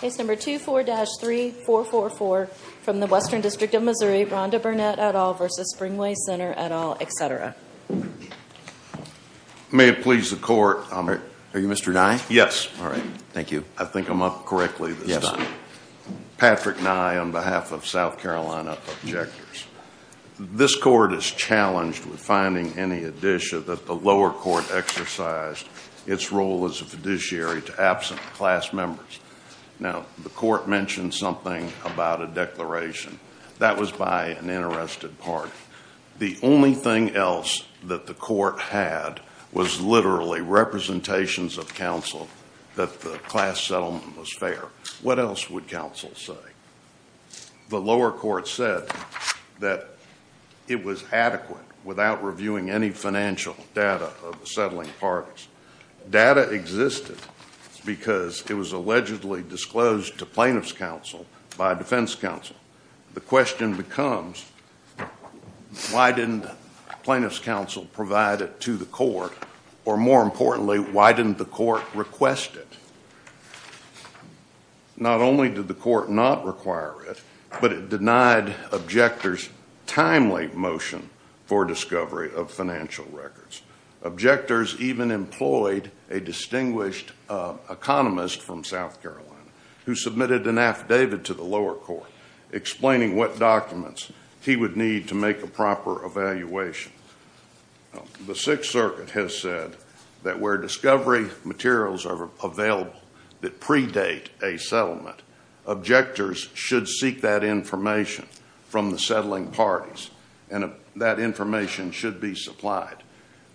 Case number 24-3444 from the Western District of Missouri, Rhonda Burnett et al. v. Spring Way Center et al., etc. May it please the Court, I'm... Are you Mr. Nye? Yes. All right. Thank you. I think I'm up correctly this time. Yes. Patrick Nye on behalf of South Carolina Objectors. This Court is challenged with finding any addition that the lower court exercised its role as a fiduciary to absent class members. Now, the Court mentioned something about a declaration. That was by an interested party. The only thing else that the Court had was literally representations of counsel that the class settlement was fair. What else would counsel say? The lower court said that it was adequate without reviewing any financial data of the settling parties. Data existed because it was allegedly disclosed to plaintiff's counsel by defense counsel. The question becomes, why didn't plaintiff's counsel provide it to the Court? Or more importantly, why didn't the Court request it? Not only did the Court not require it, but it denied objectors timely motion for discovery of financial records. Objectors even employed a distinguished economist from South Carolina who submitted an affidavit to the lower court. Explaining what documents he would need to make a proper evaluation. The Sixth Circuit has said that where discovery materials are available that predate a settlement, objectors should seek that information from the settling parties and that information should be supplied.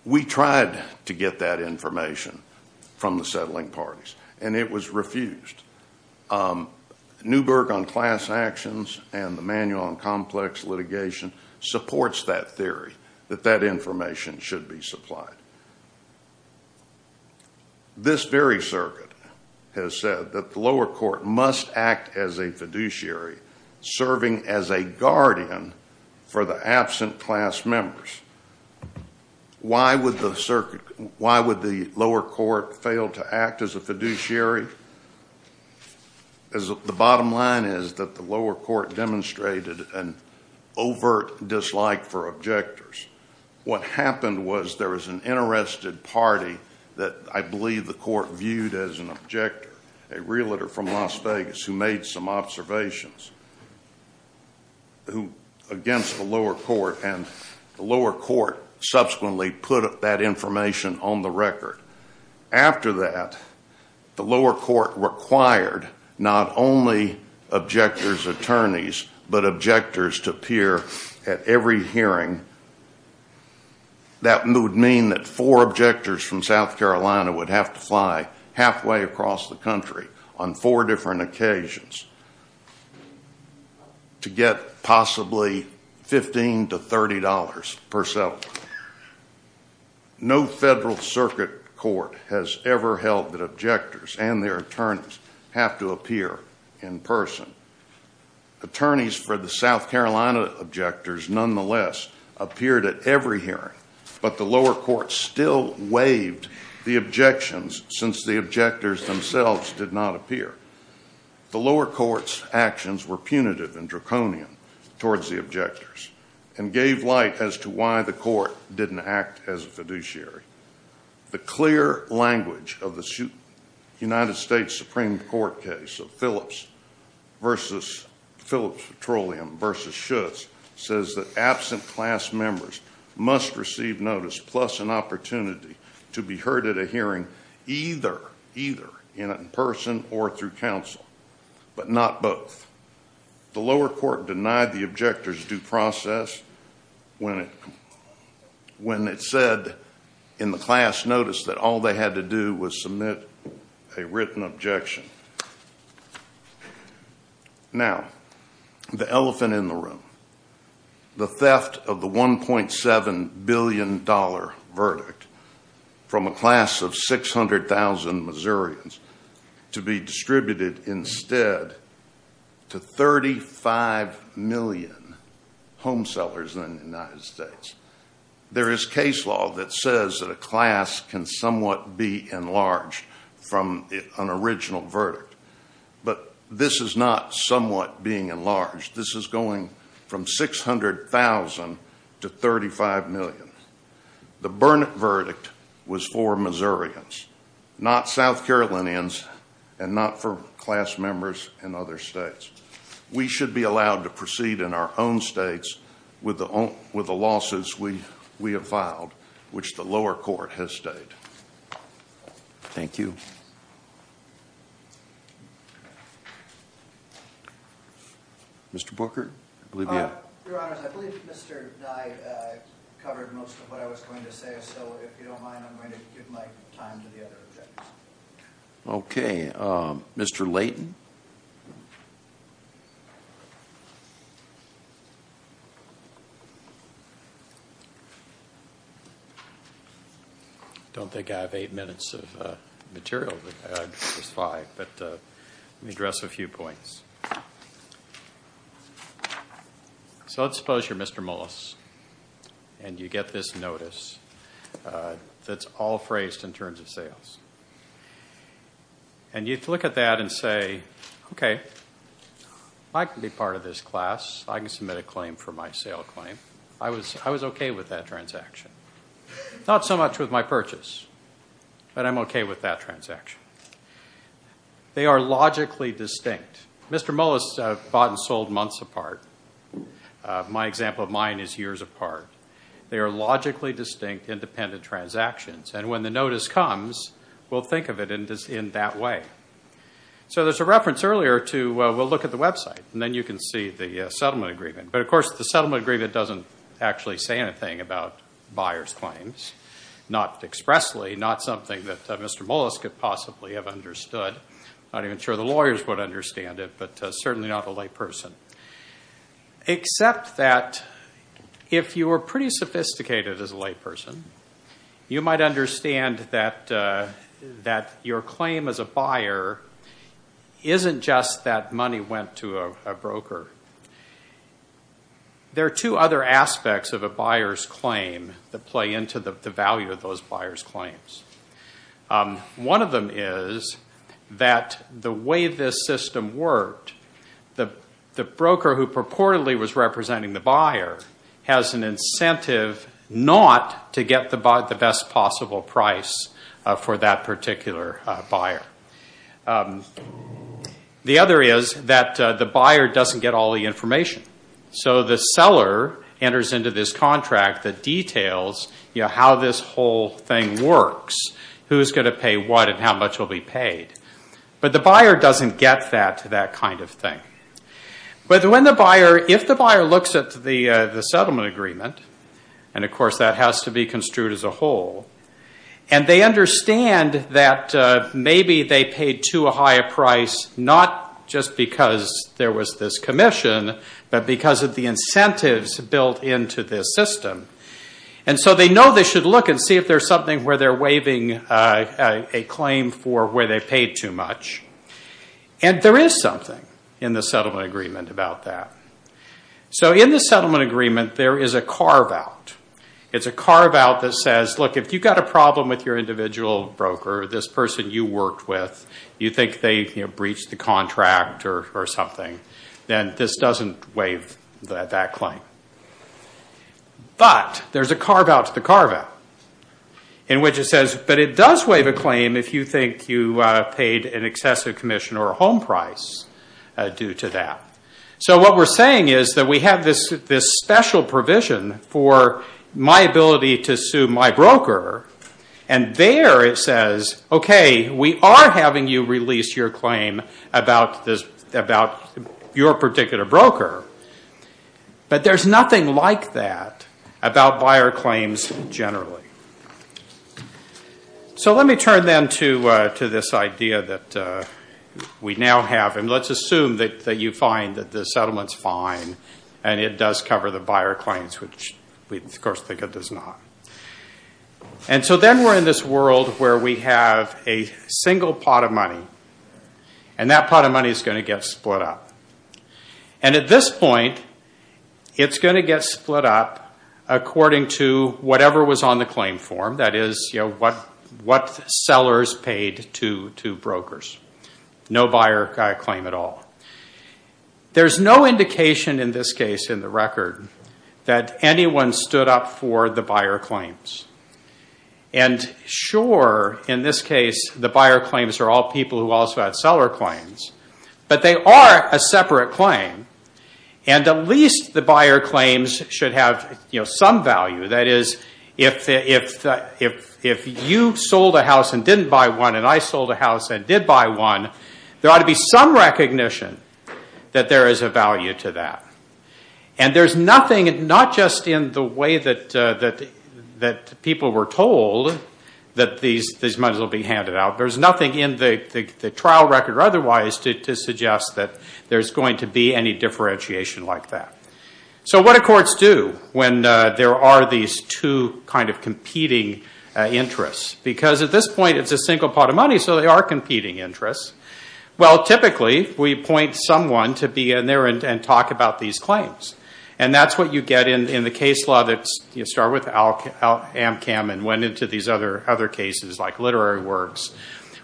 We tried to get that information from the settling parties and it was refused. Newberg on class actions and the manual on complex litigation supports that theory that that information should be supplied. This very circuit has said that the lower court must act as a fiduciary serving as a guardian for the absent class members. Why would the lower court fail to act as a fiduciary? The bottom line is that the lower court demonstrated an overt dislike for objectors. What happened was there was an interested party that I believe the court viewed as an objector. A realtor from Las Vegas who made some observations against the lower court and the lower court subsequently put that information on the record. After that, the lower court required not only objectors' attorneys, but objectors to appear at every hearing. That would mean that four objectors from South Carolina would have to fly halfway across the country on four different occasions to get possibly $15 to $30 per settlement. No federal circuit court has ever held that objectors and their attorneys have to appear in person. Attorneys for the South Carolina objectors nonetheless appeared at every hearing, but the lower court still waived the objections since the objectors themselves did not appear. The lower court's actions were punitive and draconian towards the objectors and gave light as to why the court didn't act as a fiduciary. The clear language of the United States Supreme Court case of Phillips Petroleum v. Schutz says that absent class members must receive notice plus an opportunity to be heard at a hearing either in person or through counsel, but not both. The lower court denied the objectors due process when it said in the class notice that all they had to do was submit a written objection. Now, the elephant in the room, the theft of the $1.7 billion verdict from a class of 600,000 Missourians to be distributed instead to 35 million home sellers in the United States. There is case law that says that a class can somewhat be enlarged from an original verdict, but this is not somewhat being enlarged. This is going from 600,000 to 35 million. The Burnett verdict was for Missourians, not South Carolinians, and not for class members in other states. We should be allowed to proceed in our own states with the losses we have filed, which the lower court has stayed. Thank you. Mr. Booker? Your Honors, I believe Mr. Nye covered most of what I was going to say, so if you don't mind, I'm going to give my time to the other objectors. Okay. Mr. Leighton? I don't think I have eight minutes of material, but I do have five. But let me address a few points. So let's suppose you're Mr. Mullis, and you get this notice that's all phrased in terms of sales. And you look at that and say, okay, I can be part of this class. I can submit a claim for my sale claim. I was okay with that transaction. Not so much with my purchase, but I'm okay with that transaction. They are logically distinct. Mr. Mullis bought and sold months apart. My example of mine is years apart. They are logically distinct independent transactions. And when the notice comes, we'll think of it in that way. So there's a reference earlier to we'll look at the website, and then you can see the settlement agreement. But, of course, the settlement agreement doesn't actually say anything about buyer's claims, not expressly, not something that Mr. Mullis could possibly have understood. I'm not even sure the lawyers would understand it, but certainly not a layperson. Except that if you were pretty sophisticated as a layperson, you might understand that your claim as a buyer isn't just that money went to a There are two other aspects of a buyer's claim that play into the value of those buyer's claims. One of them is that the way this system worked, the broker who purportedly was representing the buyer has an incentive not to get the best possible price for that particular buyer. The other is that the buyer doesn't get all the information. So the seller enters into this contract that details how this whole thing works, who's going to pay what and how much will be paid. But the buyer doesn't get that kind of thing. But if the buyer looks at the settlement agreement, and, of course, that has to be construed as a whole, and they understand that maybe they paid too high a price not just because there was this commission, but because of the incentives built into this system. And so they know they should look and see if there's something where they're waiving a claim for where they paid too much. And there is something in the settlement agreement about that. So in the settlement agreement, there is a carve-out. It's a carve-out that says, look, if you've got a problem with your individual broker, this person you worked with, you think they breached the contract or something, then this doesn't waive that claim. But there's a carve-out to the carve-out in which it says, but it does waive a claim if you think you paid an excessive commission or a home price due to that. So what we're saying is that we have this special provision for my ability to sue my broker, and there it says, okay, we are having you release your claim about your particular broker. But there's nothing like that about buyer claims generally. So let me turn then to this idea that we now have. And let's assume that you find that the settlement's fine and it does cover the buyer claims, which we of course think it does not. And so then we're in this world where we have a single pot of money, and that pot of money is going to get split up. And at this point, it's going to get split up according to whatever was on the claim form, that is, what sellers paid to brokers. No buyer claim at all. There's no indication in this case in the record that anyone stood up for the buyer claims. And sure, in this case, the buyer claims are all people who also had seller claims, but they are a separate claim. And at least the buyer claims should have some value. That is, if you sold a house and didn't buy one and I sold a house and did buy one, there ought to be some recognition that there is a value to that. And there's nothing, not just in the way that people were told that these monies will be handed out, there's nothing in the trial record or otherwise to suggest that there's going to be any differentiation like that. So what do courts do when there are these two kind of competing interests? Because at this point, it's a single pot of money, so they are competing interests. Well, typically, we appoint someone to be in there and talk about these claims. And that's what you get in the case law that started with Amcam and went into these other cases like literary works,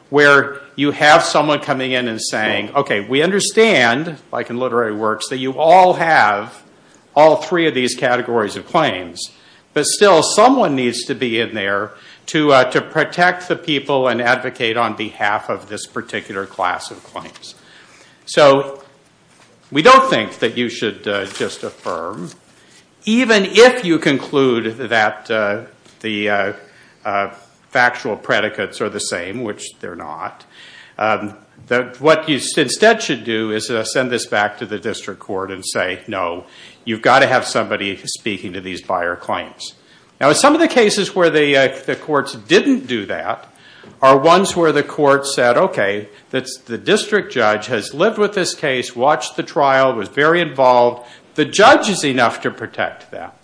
where you have someone coming in and saying, okay, we understand, like in literary works, that you all have all three of these categories of claims. But still, someone needs to be in there to protect the people and advocate on behalf of this particular class of claims. So we don't think that you should just affirm, even if you conclude that the factual predicates are the same, which they're not, that what you instead should do is send this back to the district court and say, no, you've got to have somebody speaking to these buyer claims. Now, some of the cases where the courts didn't do that are ones where the courts said, okay, the district judge has lived with this case, watched the trial, was very involved. The judge is enough to protect that.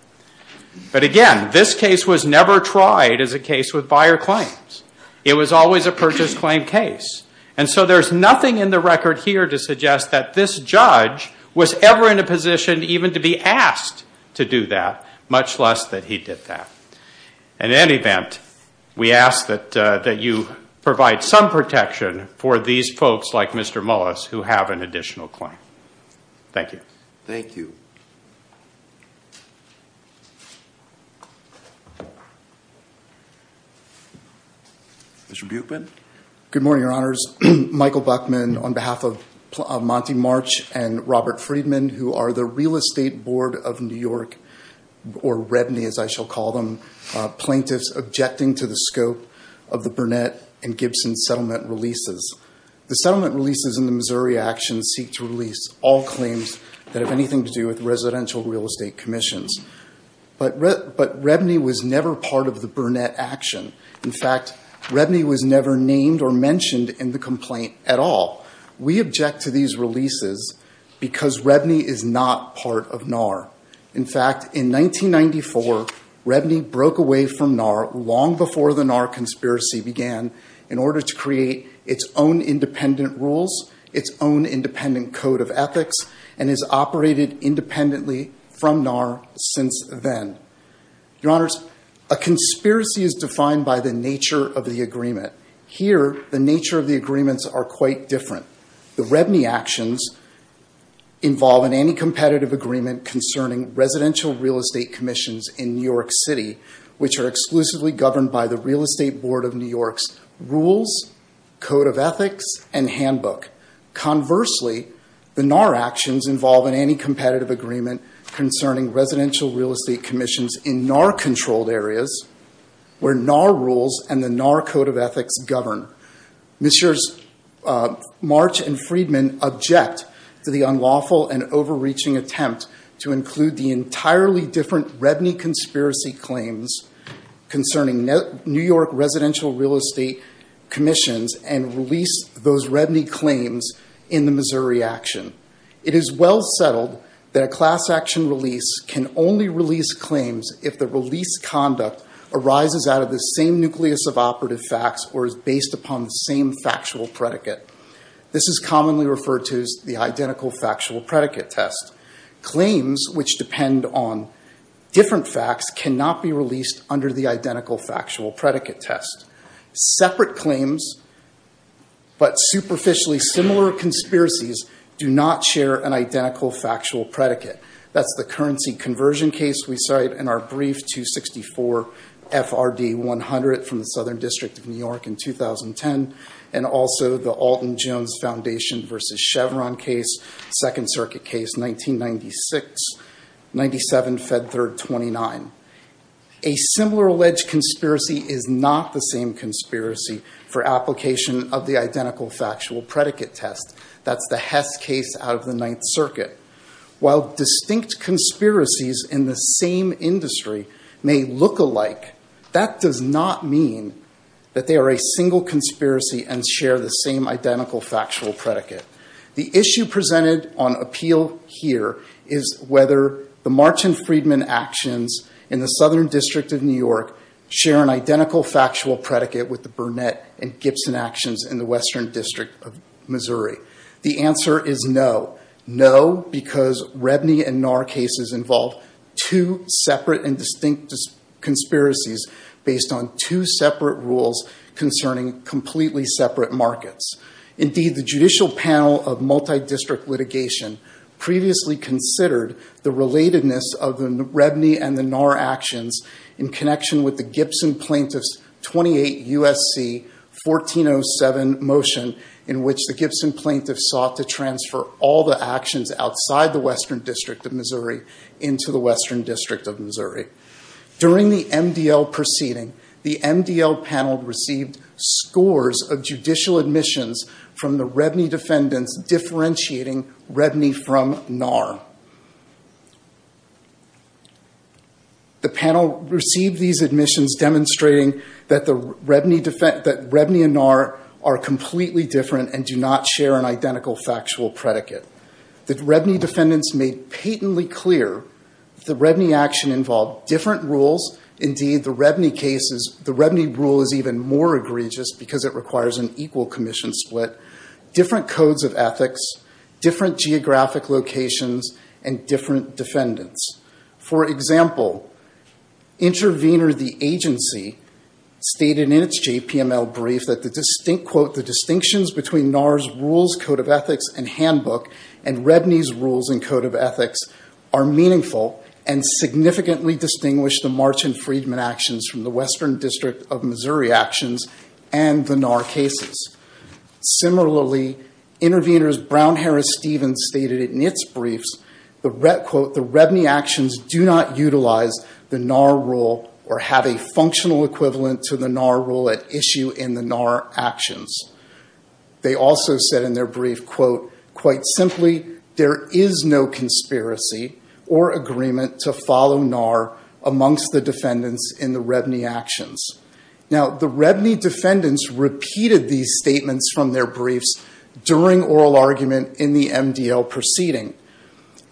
But again, this case was never tried as a case with buyer claims. It was always a purchase claim case. And so there's nothing in the record here to suggest that this judge was ever in a position even to be asked to do that, much less that he did that. In any event, we ask that you provide some protection for these folks like Mr. Mullis who have an additional claim. Thank you. Thank you. Mr. Buechmann. Good morning, Your Honors. Michael Buechmann on behalf of Monty March and Robert Friedman who are the Real Estate Board of New York, or REBNY as I shall call them, plaintiffs objecting to the scope of the Burnett and Gibson settlement releases. The settlement releases in the Missouri actions seek to release all claims that have anything to do with residential real estate commissions. But REBNY was never part of the Burnett action. In fact, REBNY was never named or mentioned in the complaint at all. We object to these releases because REBNY is not part of NAR. In fact, in 1994, REBNY broke away from NAR long before the NAR conspiracy began in order to create its own independent rules, its own independent code of ethics, and has operated independently from NAR since then. Your Honors, a conspiracy is defined by the nature of the agreement. Here, the nature of the agreements are quite different. The REBNY actions involve an anti-competitive agreement concerning residential real estate commissions in New York City, which are exclusively governed by the Real Estate Board of New York's rules, code of ethics, and handbook. Conversely, the NAR actions involve an anti-competitive agreement concerning residential real estate commissions in NAR-controlled areas where NAR rules and the NAR code of ethics govern. Ms. Scherz, March, and Friedman object to the unlawful and overreaching attempt to include the entirely different REBNY conspiracy claims concerning New York residential real estate commissions and release those REBNY claims in the Missouri action. It is well settled that a class action release can only release claims if the release conduct arises out of the same nucleus of operative facts or is based upon the same factual predicate. This is commonly referred to as the identical factual predicate test. Claims which depend on different facts cannot be released under the identical factual predicate test. Separate claims, but superficially similar conspiracies, do not share an identical factual predicate. That's the currency conversion case we cite in our brief 264 FRD 100 from the Southern District of New York in 2010, and also the Alton Jones Foundation versus Chevron case, Second Circuit case, 1996, 97, Fed Third 29. A similar alleged conspiracy is not the same conspiracy for application of the identical factual predicate test. That's the Hess case out of the Ninth Circuit. While distinct conspiracies in the same industry may look alike, that does not mean that they are a single conspiracy and share the same identical factual predicate. The issue presented on appeal here is whether the March and Friedman actions in the Southern District of New York share an identical factual predicate with the Burnett and Gibson actions in the Western District of Missouri. The answer is no. No, because Rebney and Gnar cases involve two separate and distinct conspiracies based on two separate rules concerning completely separate markets. Indeed, the Judicial Panel of Multidistrict Litigation previously considered the relatedness of the Rebney and the Gnar actions in connection with the Gibson plaintiff's 28 U.S.C. 1407 motion, in which the Gibson plaintiff sought to transfer all the actions outside the Western District of Missouri into the Western District of Missouri. During the MDL proceeding, the MDL panel received scores of judicial admissions from the Rebney defendants differentiating Rebney from Gnar. The panel received these admissions demonstrating that Rebney and Gnar are completely different and do not share an identical factual predicate. The Rebney defendants made patently clear the Rebney action involved different rules. Indeed, the Rebney rule is even more egregious because it requires an equal commission split, different codes of ethics, different geographic locations, and different defendants. For example, Intervenor, the agency, stated in its JPML brief that the distinct quote, the distinctions between Gnar's rules, code of ethics, and handbook and Rebney's rules and code of ethics are meaningful and significantly distinguish the March and Friedman actions from the Western District of Missouri actions and the Gnar cases. Similarly, Intervenor's Brown-Harris-Stevens stated in its briefs the quote, the Rebney actions do not utilize the Gnar rule or have a functional equivalent to the Gnar rule at issue in the Gnar actions. They also said in their brief quote, quite simply, there is no conspiracy or agreement to follow Gnar amongst the defendants in the Rebney actions. Now, the Rebney defendants repeated these statements from their briefs during oral argument in the MDL proceeding.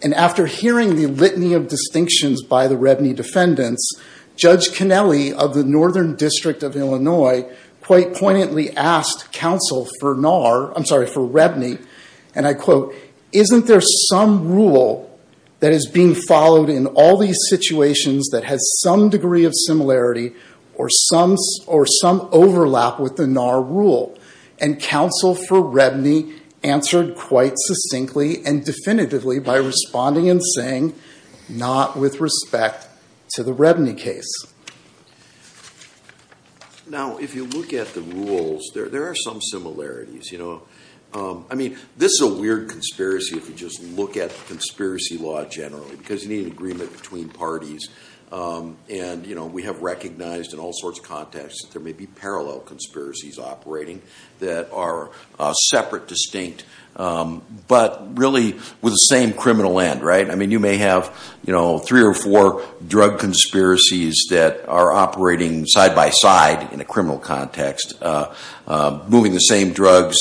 And after hearing the litany of distinctions by the Rebney defendants, Judge Kennelly of the Northern District of Illinois quite poignantly asked counsel for Gnar, I'm sorry, for Rebney, and I quote, isn't there some rule that is being followed in all these situations that has some degree of similarity or some overlap with the Gnar rule? And counsel for Rebney answered quite succinctly and definitively by responding and saying, not with respect to the Rebney case. Now, if you look at the rules, there are some similarities. I mean, this is a weird conspiracy if you just look at conspiracy law generally, because you need an agreement between parties. And we have recognized in all sorts of contexts that there may be parallel conspiracies operating that are separate, distinct, but really with the same criminal end, right? I mean, you may have three or four drug conspiracies that are operating side by side in a criminal context, moving the same drugs,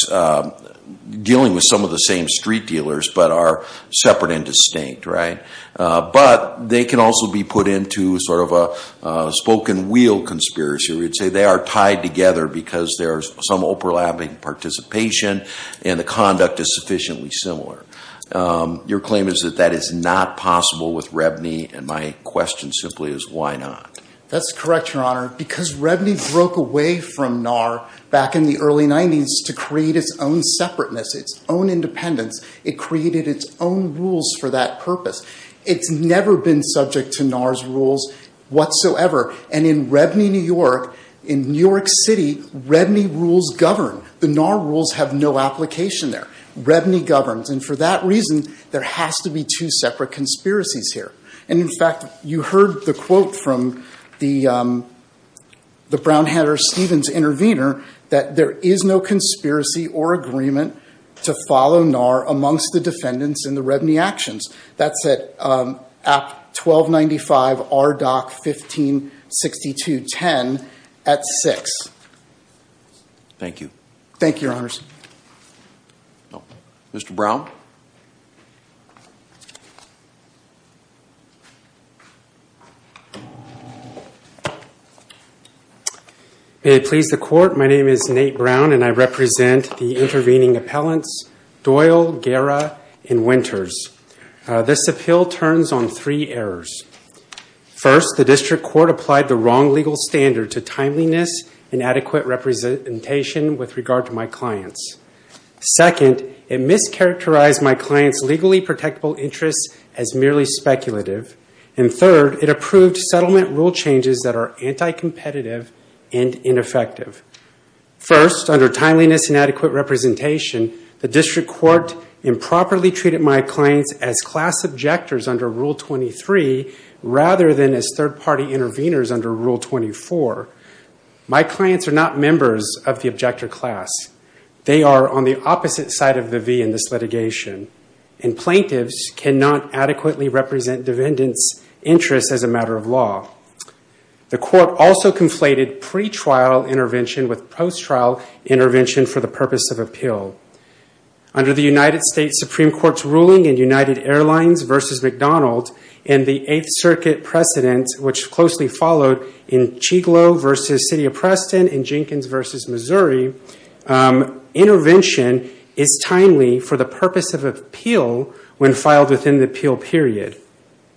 dealing with some of the same street dealers, but are separate and distinct, right? But they can also be put into sort of a spoken wheel conspiracy. We'd say they are tied together because there's some overlapping participation and the conduct is sufficiently similar. Your claim is that that is not possible with Rebney, and my question simply is, why not? That's correct, Your Honor, because Rebney broke away from NAR back in the early 90s to create its own separateness, its own independence. It created its own rules for that purpose. It's never been subject to NAR's rules whatsoever. And in Rebney, New York, in New York City, Rebney rules govern. The NAR rules have no application there. Rebney governs. And for that reason, there has to be two separate conspiracies here. And, in fact, you heard the quote from the Brownhatter-Stevens intervener that there is no conspiracy or agreement to follow NAR amongst the defendants in the Rebney actions. That's at 1295 RDOC 1562.10 at 6. Thank you. Thank you, Your Honors. Mr. Brown? May it please the Court, my name is Nate Brown, and I represent the intervening appellants Doyle, Guerra, and Winters. This appeal turns on three errors. First, the district court applied the wrong legal standard to timeliness and adequate representation with regard to my clients. Second, it mischaracterized my clients' legally protectable interests as merely speculative. And third, it approved settlement rule changes that are anti-competitive and ineffective. First, under timeliness and adequate representation, the district court improperly treated my clients as class objectors under Rule 23 rather than as third-party interveners under Rule 24. My clients are not members of the objector class. They are on the opposite side of the V in this litigation, and plaintiffs cannot adequately represent defendants' interests as a matter of law. The court also conflated pretrial intervention with post-trial intervention for the purpose of appeal. Under the United States Supreme Court's ruling in United Airlines v. McDonald in the Eighth Circuit precedent, which closely followed in Chiglo v. City of Preston and Jenkins v. Missouri, intervention is timely for the purpose of appeal when filed within the appeal period.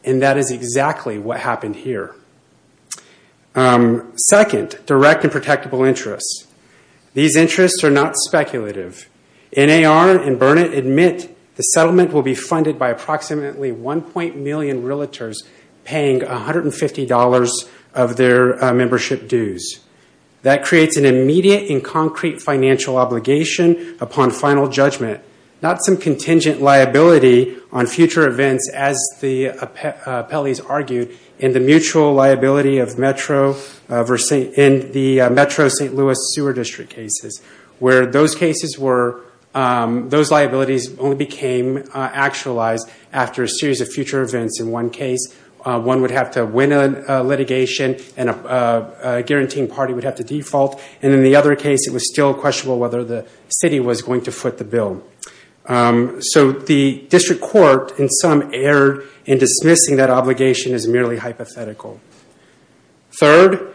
And that is exactly what happened here. Second, direct and protectable interests. These interests are not speculative. NAR and Burnett admit the settlement will be funded by approximately 1. million realtors paying $150 of their membership dues. That creates an immediate and concrete financial obligation upon final judgment, not some contingent liability on future events, as the appellees argued, in the mutual liability of Metro St. Louis sewer district cases, where those liabilities only became actualized after a series of future events. In one case, one would have to win a litigation, and a guaranteeing party would have to default. And in the other case, it was still questionable whether the city was going to foot the bill. So the district court, in some, erred in dismissing that obligation as merely hypothetical. Third,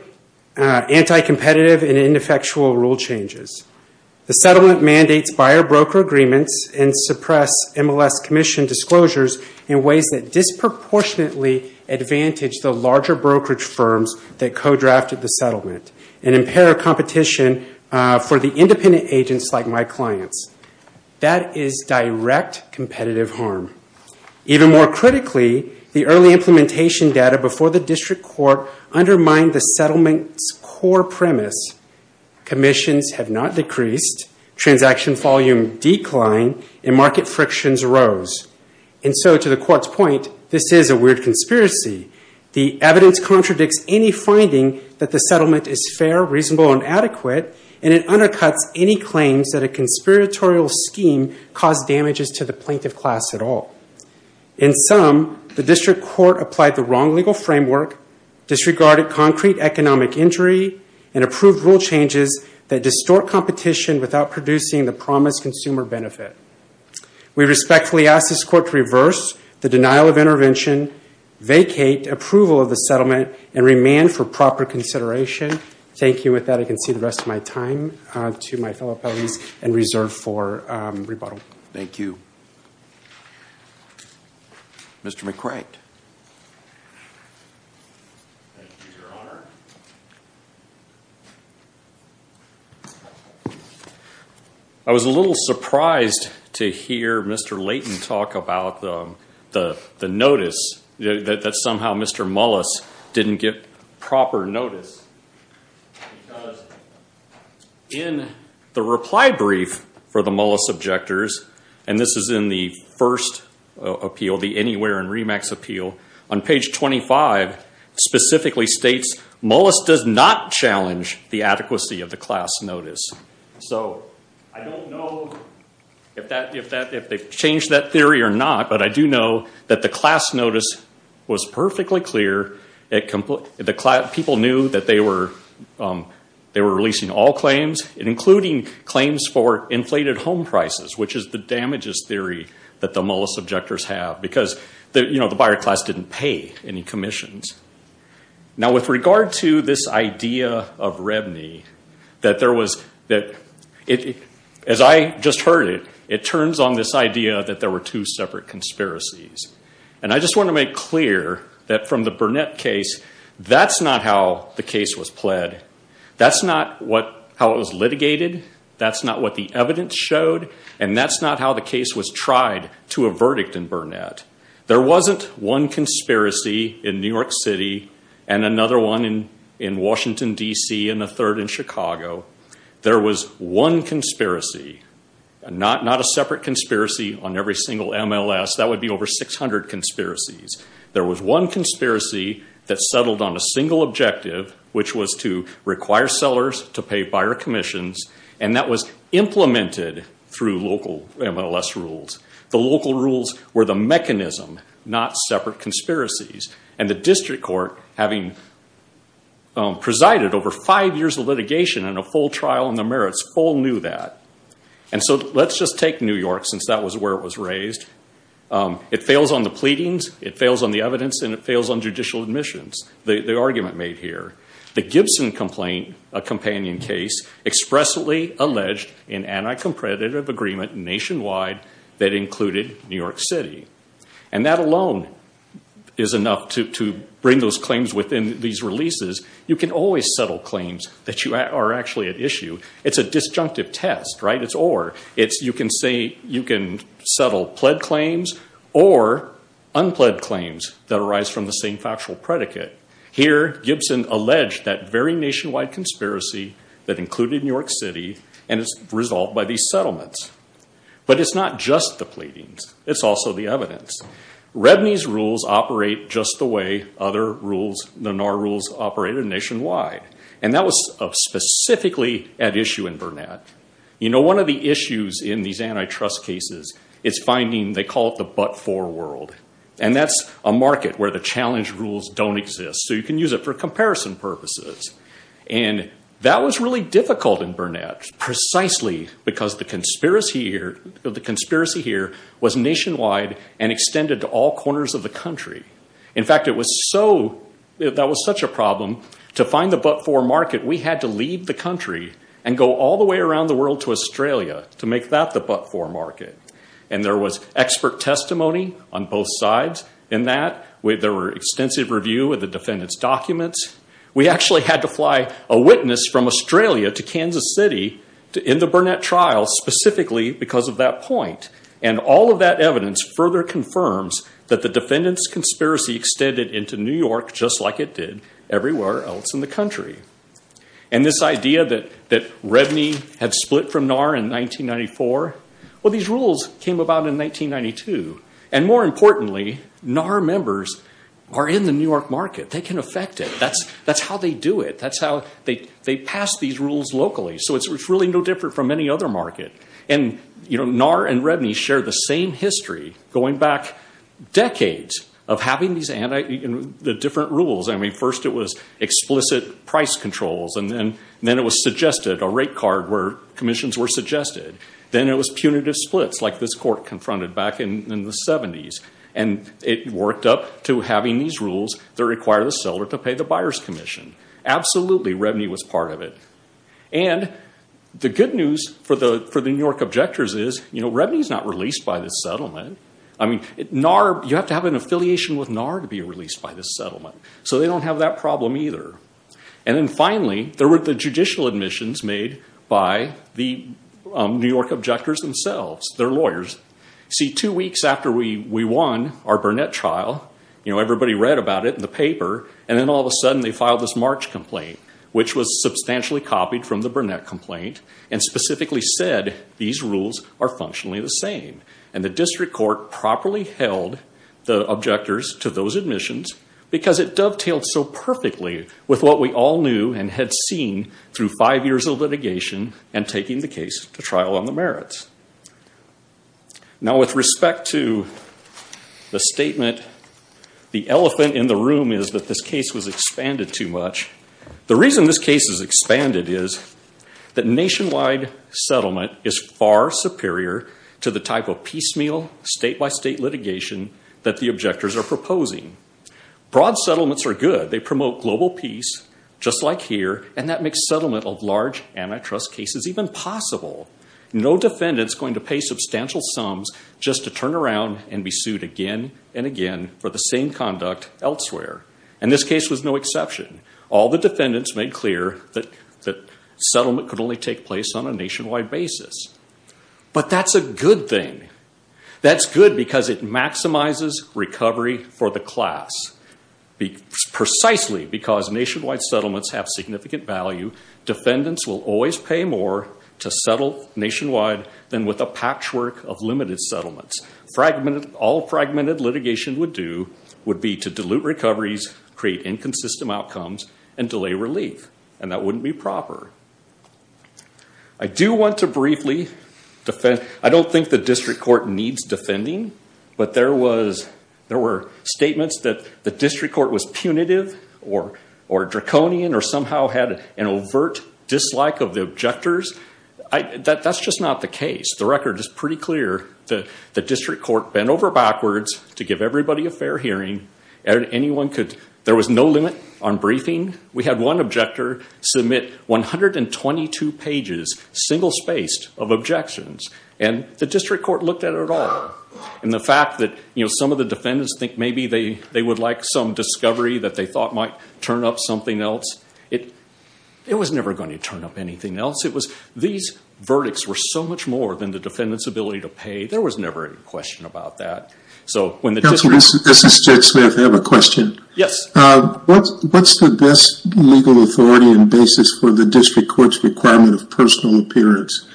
anti-competitive and ineffectual rule changes. The settlement mandates buyer-broker agreements and suppress MLS commission disclosures in ways that disproportionately advantage the larger brokerage firms that co-drafted the settlement and impair competition for the independent agents like my clients. That is direct competitive harm. Even more critically, the early implementation data before the district court undermined the settlement's core premise. Commissions have not decreased, transaction volume declined, and market frictions rose. And so, to the court's point, this is a weird conspiracy. The evidence contradicts any finding that the settlement is fair, reasonable, and adequate, and it undercuts any claims that a conspiratorial scheme caused damages to the plaintiff class at all. In some, the district court applied the wrong legal framework, disregarded concrete economic injury, and approved rule changes that distort competition without producing the promised consumer benefit. We respectfully ask this court to reverse the denial of intervention, vacate approval of the settlement, and remand for proper consideration. Thank you. With that, I can see the rest of my time and reserve for rebuttal. Thank you. Mr. McCrackett. Thank you, Your Honor. I was a little surprised to hear Mr. Layton talk about the notice that somehow Mr. Mullis didn't get proper notice because in the reply brief for the Mullis objectors, and this is in the first appeal, the Anywhere and REMAX appeal, on page 25 specifically states, Mullis does not challenge the adequacy of the class notice. So, I don't know if they've changed that theory or not, but I do know that the class notice was perfectly clear. People knew that they were releasing all claims, including claims for inflated home prices, which is the damages theory that the Mullis objectors have because the buyer class didn't pay any commissions. Now, with regard to this idea of REBNY, as I just heard it, it turns on this idea that there were two separate conspiracies. And I just want to make clear that from the Burnett case, that's not how the case was pled. That's not how it was litigated. That's not what the evidence showed, and that's not how the case was tried to a verdict in Burnett. There wasn't one conspiracy in New York City and another one in Washington, D.C., and a third in Chicago. There was one conspiracy, not a separate conspiracy on every single MLS. That would be over 600 conspiracies. There was one conspiracy that settled on a single objective, which was to require sellers to pay buyer commissions, and that was implemented through local MLS rules. The local rules were the mechanism, not separate conspiracies. And the district court, having presided over five years of litigation and a full trial in the merits, all knew that. And so let's just take New York, since that was where it was raised. It fails on the pleadings, it fails on the evidence, and it fails on judicial admissions, the argument made here. The Gibson complaint, a companion case, expressly alleged an anti-competitive agreement nationwide that included New York City. And that alone is enough to bring those claims within these releases. You can always settle claims that are actually at issue. It's a disjunctive test, right? It's or. You can settle pled claims or unpled claims that arise from the same factual predicate. Here, Gibson alleged that very nationwide conspiracy that included New York City, and it's resolved by these settlements. But it's not just the pleadings. It's also the evidence. Redney's rules operate just the way other rules, the NAR rules, operated nationwide. And that was specifically at issue in Burnett. You know, one of the issues in these antitrust cases is finding, they call it the but-for world. And that's a market where the challenge rules don't exist, so you can use it for comparison purposes. And that was really difficult in Burnett, precisely because the conspiracy here was nationwide and extended to all corners of the country. In fact, it was so, that was such a problem to find the but-for market, we had to leave the country and go all the way around the world to Australia to make that the but-for market. And there was expert testimony on both sides in that. There were extensive review of the defendant's documents. We actually had to fly a witness from Australia to Kansas City in the Burnett trial, specifically because of that point. And all of that evidence further confirms that the defendant's conspiracy extended into New York just like it did everywhere else in the country. And this idea that Redney had split from NAR in 1994, well, these rules came about in 1992. And more importantly, NAR members are in the New York market. They can affect it. That's how they do it. That's how they pass these rules locally. So it's really no different from any other market. And, you know, NAR and Redney share the same history, going back decades of having these different rules. I mean, first it was explicit price controls, and then it was suggested, a rate card where commissions were suggested. Then it was punitive splits, like this court confronted back in the 70s. And it worked up to having these rules that require the seller to pay the buyer's commission. Absolutely, Redney was part of it. And the good news for the New York objectors is, you know, Redney's not released by this settlement. I mean, NAR, you have to have an affiliation with NAR to be released by this settlement. So they don't have that problem either. And then finally, there were the judicial admissions made by the New York objectors themselves, their lawyers. See, two weeks after we won our Burnett trial, you know, everybody read about it in the paper, and then all of a sudden they filed this March complaint, which was substantially copied from the Burnett complaint, and specifically said, these rules are functionally the same. And the district court properly held the objectors to those admissions, because it dovetailed so perfectly with what we all knew and had seen through five years of litigation and taking the case to trial on the merits. Now, with respect to the statement, the elephant in the room is that this case was expanded too much. The reason this case is expanded is that nationwide settlement is far superior to the type of piecemeal, state-by-state litigation that the objectors are proposing. Broad settlements are good. They promote global peace, just like here, and that makes settlement of large antitrust cases even possible. No defendant's going to pay substantial sums just to turn around and be sued again and again for the same conduct elsewhere. And this case was no exception. All the defendants made clear that settlement could only take place on a nationwide basis. But that's a good thing. That's good because it maximizes recovery for the class. Precisely because nationwide settlements have significant value, defendants will always pay more to settle nationwide than with a patchwork of limited settlements. All fragmented litigation would do would be to dilute recoveries, create inconsistent outcomes, and delay relief, and that wouldn't be proper. I do want to briefly defend... I don't think the district court needs defending, but there were statements that the district court was punitive or draconian or somehow had an overt dislike of the objectors. That's just not the case. The record is pretty clear that the district court bent over backwards to give everybody a fair hearing. There was no limit on briefing. We had one objector submit 122 pages, single-spaced, of objections. And the district court looked at it all. And the fact that some of the defendants think maybe they would like some discovery that they thought might turn up something else, it was never going to turn up anything else. These verdicts were so much more than the defendants' ability to pay. There was never any question about that. Counsel, this is Judge Smith. I have a question. What's the best legal authority and basis for the district court's requirement of personal appearance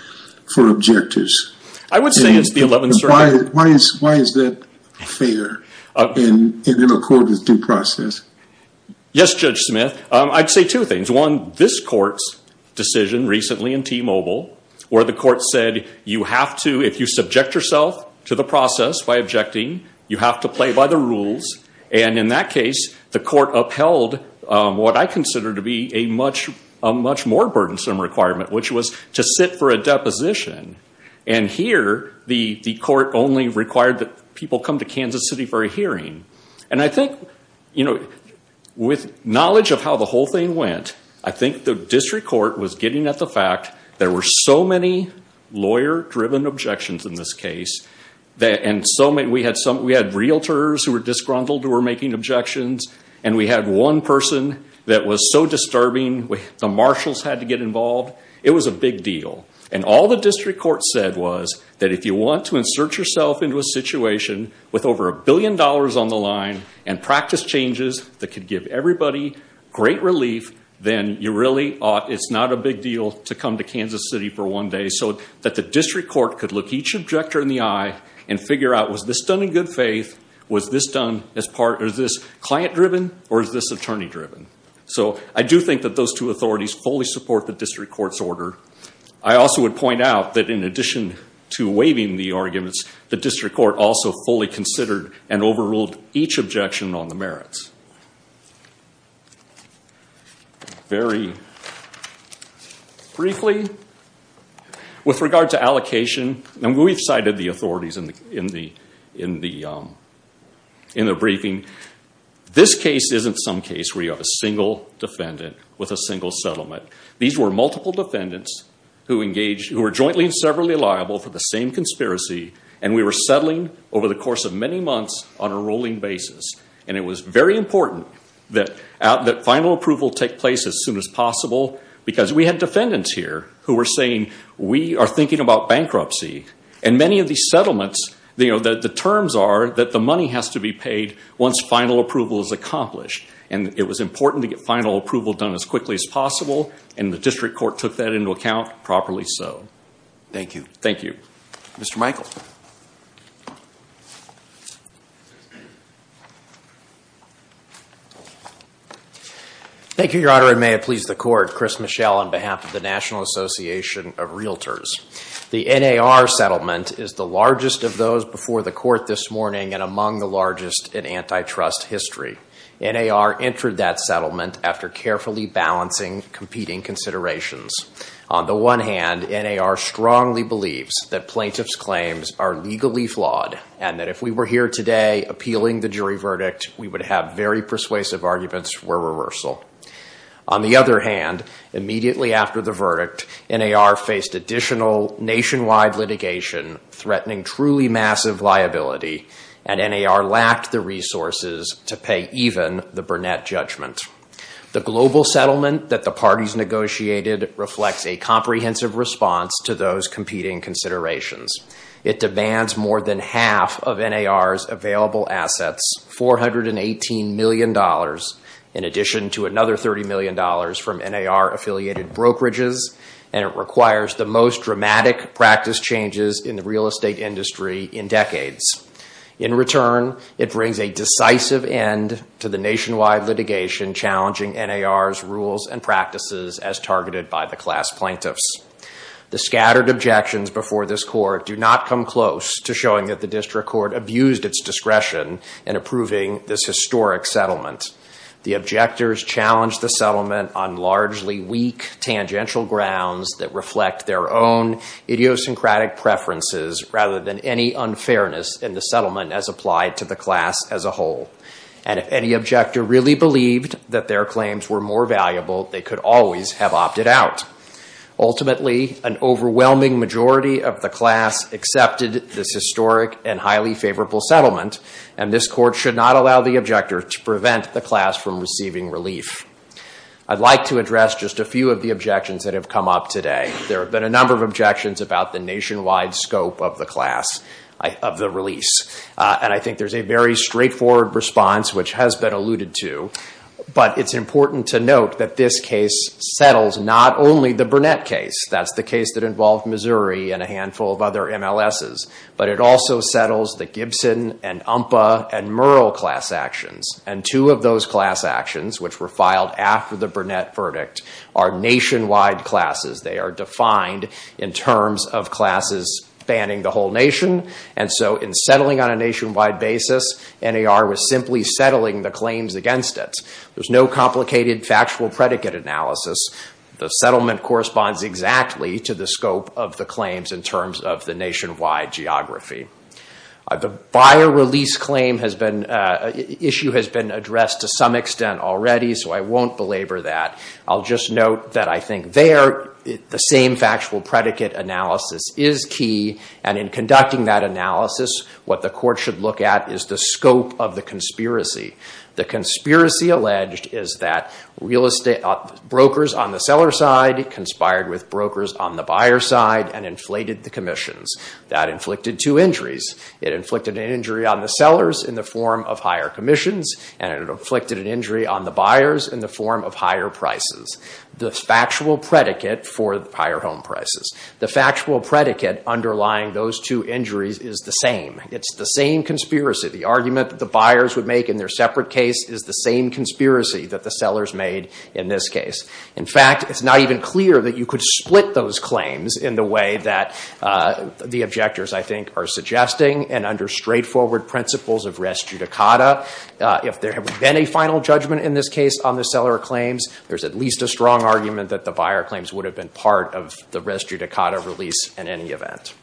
for objectives? I would say it's the 11th Circuit. Why is that fair in accord with due process? Yes, Judge Smith, I'd say two things. One, this court's decision recently in T-Mobile where the court said you have to, if you subject yourself to the process by objecting, you have to play by the rules. And in that case, the court upheld what I consider to be a much more burdensome requirement, which was to sit for a deposition. And here, the court only required that people come to Kansas City for a hearing. And I think, you know, with knowledge of how the whole thing went, I think the district court was getting at the fact that there were so many lawyer-driven objections in this case, and we had realtors who were disgruntled, who were making objections, and we had one person that was so disturbing, the marshals had to get involved. It was a big deal. And all the district court said was that if you want to insert yourself into a situation with over a billion dollars on the line and practice changes that could give everybody great relief, then it's not a big deal to come to Kansas City for one day so that the district court could look each objector in the eye and figure out, was this done in good faith, was this client-driven, or is this attorney-driven? So I do think that those two authorities fully support the district court's order. I also would point out that in addition to waiving the arguments, the district court also fully considered and overruled each objection on the merits. Very briefly, with regard to allocation, and we've cited the authorities in the briefing, this case isn't some case where you have a single defendant with a single settlement. These were multiple defendants who were jointly and severally liable for the same conspiracy, and we were settling over the course of many months on a rolling basis. And it was very important that final approval take place as soon as possible because we had defendants here who were saying, we are thinking about bankruptcy. And many of these settlements, the terms are that the money has to be paid once final approval is accomplished, and it was important to get final approval done as quickly as possible, and the district court took that into account, properly so. Thank you. Thank you. Mr. Michael. Thank you, Your Honor, and may it please the court, Chris Michel on behalf of the National Association of Realtors. The NAR settlement is the largest of those before the court this morning and among the largest in antitrust history. NAR entered that settlement after carefully balancing competing considerations. On the one hand, NAR strongly believes that plaintiffs' claims are legally flawed and that if we were here today appealing the jury verdict, we would have very persuasive arguments for reversal. On the other hand, immediately after the verdict, NAR faced additional nationwide litigation threatening truly massive liability, and NAR lacked the resources to pay even the Burnett judgment. The global settlement that the parties negotiated reflects a comprehensive response to those competing considerations. It demands more than half of NAR's available assets, $418 million, in addition to another $30 million from NAR-affiliated brokerages, and it requires the most dramatic practice changes in the real estate industry in decades. In return, it brings a decisive end to the nationwide litigation challenging NAR's rules and practices as targeted by the class plaintiffs. The scattered objections before this court do not come close to showing that the district court abused its discretion in approving this historic settlement. The objectors challenged the settlement on largely weak tangential grounds that reflect their own idiosyncratic preferences rather than any unfairness in the settlement as applied to the class as a whole. And if any objector really believed that their claims were more valuable, they could always have opted out. Ultimately, an overwhelming majority of the class accepted this historic and highly favorable settlement and this court should not allow the objector to prevent the class from receiving relief. I'd like to address just a few of the objections that have come up today. There have been a number of objections about the nationwide scope of the class, of the release, and I think there's a very straightforward response which has been alluded to, but it's important to note that this case settles not only the Burnett case, that's the case that involved Missouri and a handful of other MLSs, but it also settles the Gibson and Umpa and Murrell class actions. And two of those class actions, which were filed after the Burnett verdict, are nationwide classes. They are defined in terms of classes spanning the whole nation, and so in settling on a nationwide basis, NAR was simply settling the claims against it. There's no complicated factual predicate analysis. The settlement corresponds exactly to the scope of the claims in terms of the nationwide geography. The buyer release issue has been addressed to some extent already, so I won't belabor that. I'll just note that I think there, the same factual predicate analysis is key, and in conducting that analysis, what the court should look at is the scope of the conspiracy. The conspiracy alleged is that brokers on the seller side conspired with brokers on the buyer side and inflated the commissions. That inflicted two injuries. It inflicted an injury on the sellers in the form of higher commissions, and it inflicted an injury on the buyers in the form of higher prices. The factual predicate for the higher home prices, the factual predicate underlying those two injuries is the same. It's the same conspiracy. The argument that the buyers would make in their separate case is the same conspiracy that the sellers made in this case. In fact, it's not even clear that you could split those claims in the way that the objectors, I think, are suggesting, and under straightforward principles of res judicata. If there had been a final judgment in this case on the seller claims, there's at least a strong argument that the buyer claims would have been part of the res judicata release in any event.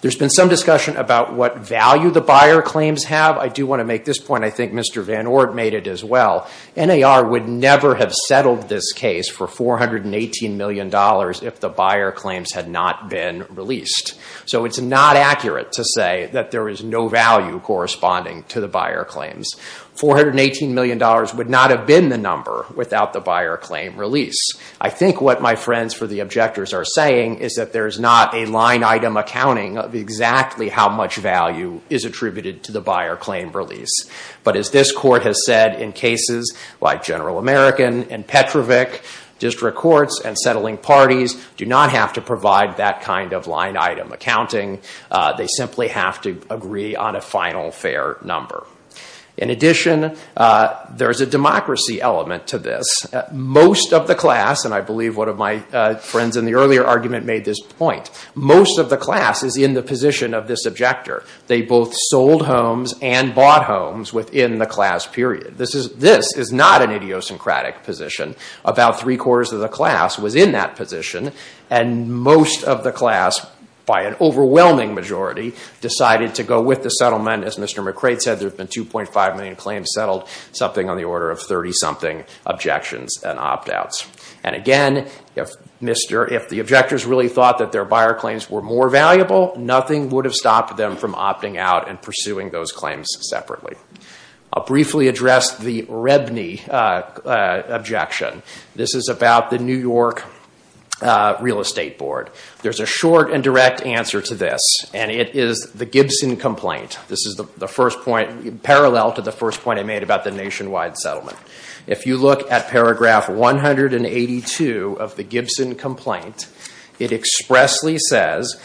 There's been some discussion about what value the buyer claims have. I do want to make this point. I think Mr. Van Oort made it as well. NAR would never have settled this case for $418 million if the buyer claims had not been released. So it's not accurate to say that there is no value corresponding to the buyer claims. $418 million would not have been the number without the buyer claim release. I think what my friends for the objectors are saying is that there is not a line item accounting of exactly how much value is attributed to the buyer claim release. But as this court has said in cases like General American and Petrovic district courts and settling parties, do not have to provide that kind of line item accounting. They simply have to agree on a final fair number. In addition, there is a democracy element to this. Most of the class, and I believe one of my friends in the earlier argument made this point, most of the class is in the position of this objector. They both sold homes and bought homes within the class period. This is not an idiosyncratic position. About three quarters of the class was in that position and most of the class, by an overwhelming majority, decided to go with the settlement. As Mr. McRae said, there have been 2.5 million claims settled, something on the order of 30-something objections and opt-outs. And again, if the objectors really thought that their buyer claims were more valuable, nothing would have stopped them from opting out and pursuing those claims separately. I'll briefly address the Rebney objection. This is about the New York Real Estate Board. There's a short and direct answer to this, and it is the Gibson complaint. This is parallel to the first point I made about the nationwide settlement. If you look at paragraph 182 of the Gibson complaint, it expressly says,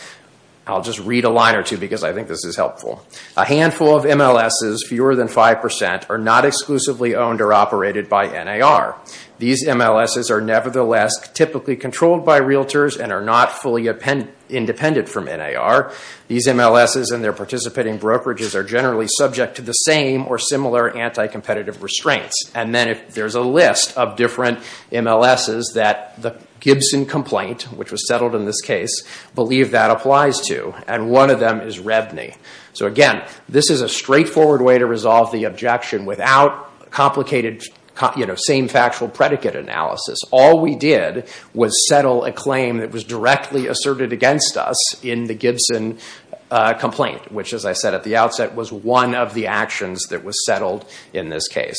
I'll just read a line or two because I think this is helpful, a handful of MLSs, fewer than 5%, are not exclusively owned or operated by NAR. These MLSs are nevertheless typically controlled by realtors and are not fully independent from NAR. These MLSs and their participating brokerages are generally subject to the same or similar anti-competitive restraints. And then there's a list of different MLSs that the Gibson complaint, which was settled in this case, believe that applies to, and one of them is Rebney. So again, this is a straightforward way to resolve the objection without complicated, you know, same factual predicate analysis. All we did was settle a claim that was directly asserted against us in the Gibson complaint, which, as I said at the outset, was one of the actions that was settled in this case.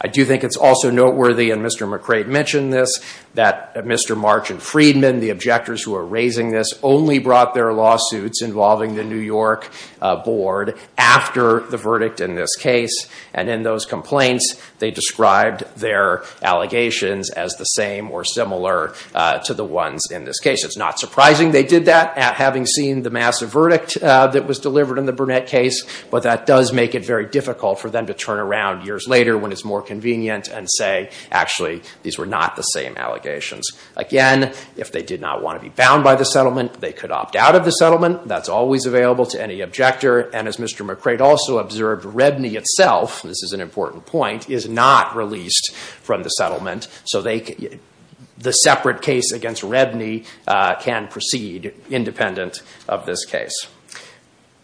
I do think it's also noteworthy, and Mr. McRae mentioned this, that Mr. March and Friedman, the objectors who are raising this, only brought their lawsuits involving the New York board after the verdict in this case. And in those complaints, they described their allegations as the same or similar to the ones in this case. It's not surprising they did that, having seen the massive verdict that was delivered in the Burnett case, but that does make it very difficult for them to turn around years later when it's more convenient and say, actually, these were not the same allegations. Again, if they did not want to be bound by the settlement, they could opt out of the settlement. That's always available to any objector. And as Mr. McRae also observed, Redney itself, this is an important point, is not released from the settlement, so the separate case against Redney can proceed independent of this case.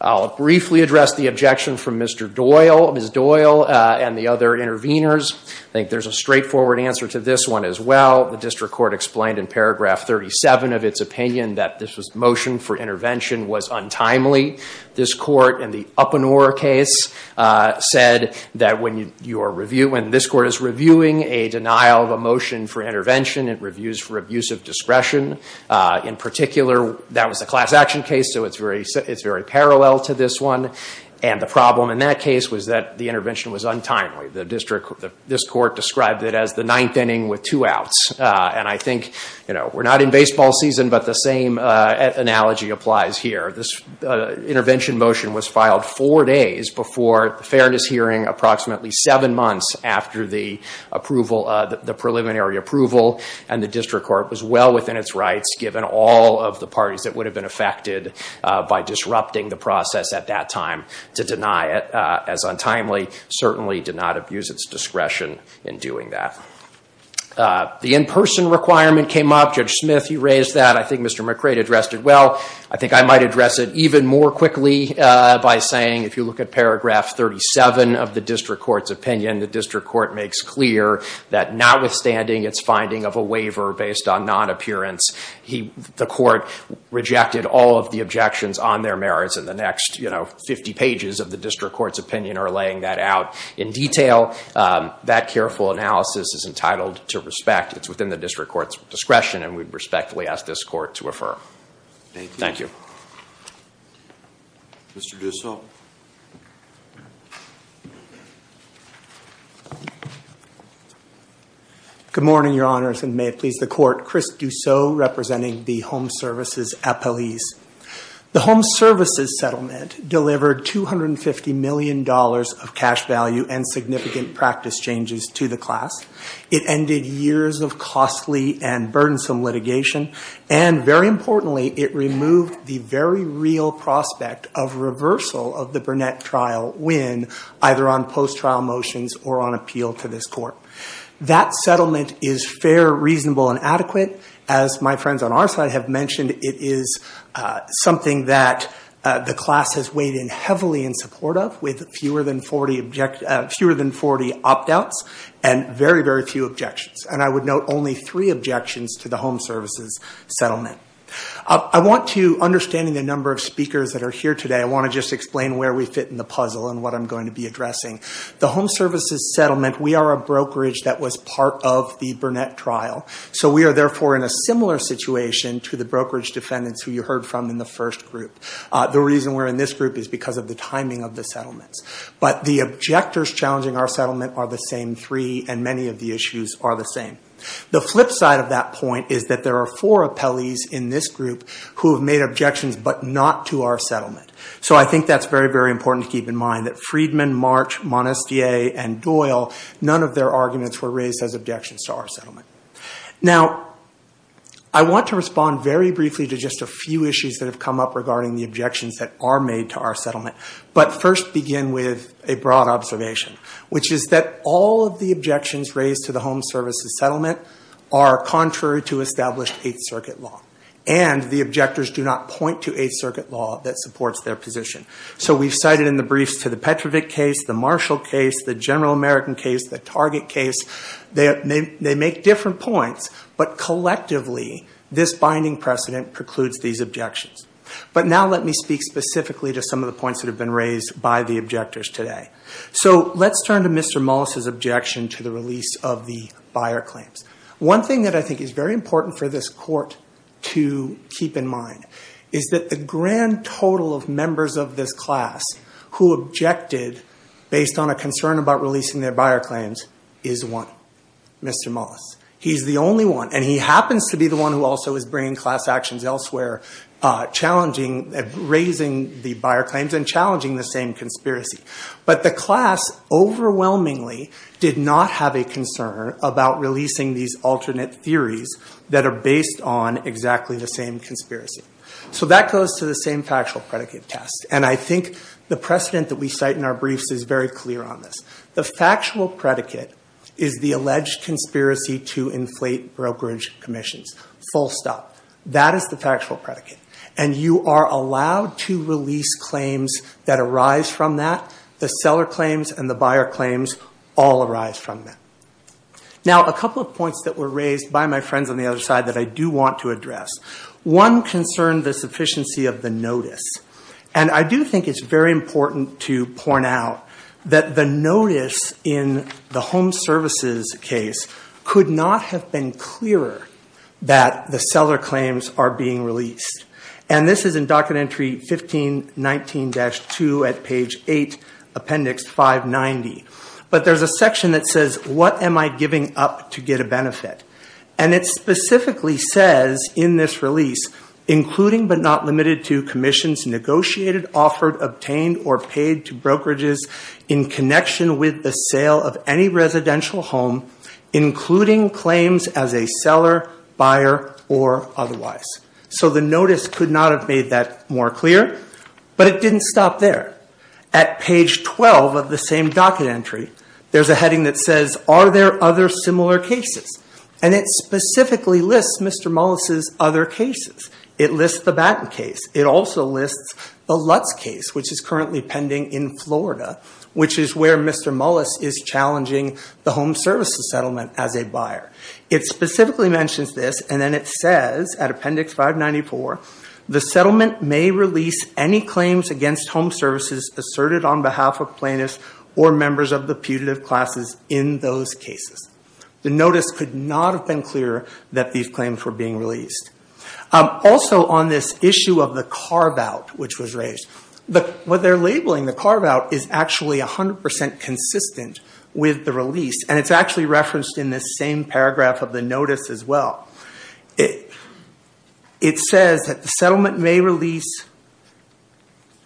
I'll briefly address the objection from Mr. Doyle, Ms. Doyle, and the other interveners. I think there's a straightforward answer to this one as well. The district court explained in paragraph 37 of its opinion that this motion for intervention was untimely. This court, in the Uppenor case, said that when this court is reviewing a denial of a motion for intervention, it reviews for abusive discretion. In particular, that was a class action case, so it's very parallel to this one. And the problem in that case was that the intervention was untimely. This court described it as the ninth inning with two outs. And I think we're not in baseball season, but the same analogy applies here. This intervention motion was filed four days before the fairness hearing, approximately seven months after the preliminary approval, and the district court was well within its rights, given all of the parties that would have been affected by disrupting the process at that time to deny it. As untimely, certainly did not abuse its discretion in doing that. The in-person requirement came up. Judge Smith, you raised that. I think Mr. McRae addressed it well. I think I might address it even more quickly by saying if you look at paragraph 37 of the district court's opinion, the district court makes clear that notwithstanding its finding of a waiver based on non-appearance, the court rejected all of the objections on their merits and the next 50 pages of the district court's opinion are laying that out in detail. That careful analysis is entitled to respect. It's within the district court's discretion and we respectfully ask this court to refer. Thank you. Mr. Dussel. Good morning, Your Honors, and may it please the court. Chris Dussel representing the Home Services appellees. The Home Services settlement delivered $250 million of cash value and significant practice changes to the class. It ended years of costly and burdensome litigation and, very importantly, it removed the very real prospect of reversal of the Burnett trial win either on post-trial motions or on appeal to this court. That settlement is fair, reasonable, and adequate. As my friends on our side have mentioned, it is something that the class has weighed in heavily in support of with fewer than 40 opt-outs and very, very few objections. And I would note only three objections to the Home Services settlement. I want to, understanding the number of speakers that are here today, I want to just explain where we fit in the puzzle and what I'm going to be addressing. The Home Services settlement, we are a brokerage that was part of the Burnett trial, so we are therefore in a similar situation to the brokerage defendants who you heard from in the first group. The reason we're in this group is because of the timing of the settlements. But the objectors challenging our settlement are the same three and many of the issues are the same. The flip side of that point is that there are four appellees in this group who have made objections but not to our settlement. So I think that's very, very important to keep in mind that Friedman, March, Monestier, and Doyle, none of their arguments were raised as objections to our settlement. Now, I want to respond very briefly to just a few issues that have come up regarding the objections that are made to our settlement, but first begin with a broad observation, which is that all of the objections raised to the Home Services settlement are contrary to established Eighth Circuit law and the objectors do not point to Eighth Circuit law that supports their position. So we've cited in the briefs to the Petrovic case, the Marshall case, the General American case, the Target case. They make different points, but collectively this binding precedent precludes these objections. But now let me speak specifically to some of the points that have been raised by the objectors today. So let's turn to Mr. Mullis's objection to the release of the buyer claims. One thing that I think is very important for this court to keep in mind is that the grand total of members of this class who objected based on a concern about releasing their buyer claims is one. Mr. Mullis. He's the only one, and he happens to be the one who also is bringing class actions elsewhere, raising the buyer claims and challenging the same conspiracy. But the class overwhelmingly did not have a concern about releasing these alternate theories that are based on exactly the same conspiracy. So that goes to the same factual predicate test, and I think the precedent that we cite in our briefs is very clear on this. The factual predicate is the alleged conspiracy to inflate brokerage commissions, full stop. That is the factual predicate, and you are allowed to release claims that arise from that. The seller claims and the buyer claims all arise from that. Now a couple of points that were raised by my friends on the other side that I do want to address. One concerned the sufficiency of the notice, and I do think it's very important to point out that the notice in the home services case could not have been clearer that the seller claims are being released, and this is in Document Entry 1519-2 at page 8, appendix 590. But there's a section that says, what am I giving up to get a benefit? And it specifically says in this release, including but not limited to commissions negotiated, offered, obtained, or paid to brokerages in connection with the sale of any residential home, including claims as a seller, buyer, or otherwise. So the notice could not have made that more clear, but it didn't stop there. At page 12 of the same Document Entry, there's a heading that says, are there other similar cases? And it specifically lists Mr. Mullis's other cases. It lists the Batten case. It also lists the Lutz case, which is currently pending in Florida, which is where Mr. Mullis is challenging the home services settlement as a buyer. It specifically mentions this, and then it says at appendix 594, the settlement may release any claims against home services asserted on behalf of plaintiffs or members of the putative classes in those cases. The notice could not have been clearer that these claims were being released. Also on this issue of the carve-out, which was raised, what they're labeling, the carve-out, is actually 100% consistent with the release, and it's actually referenced in this same paragraph of the notice as well. It says that the settlement may release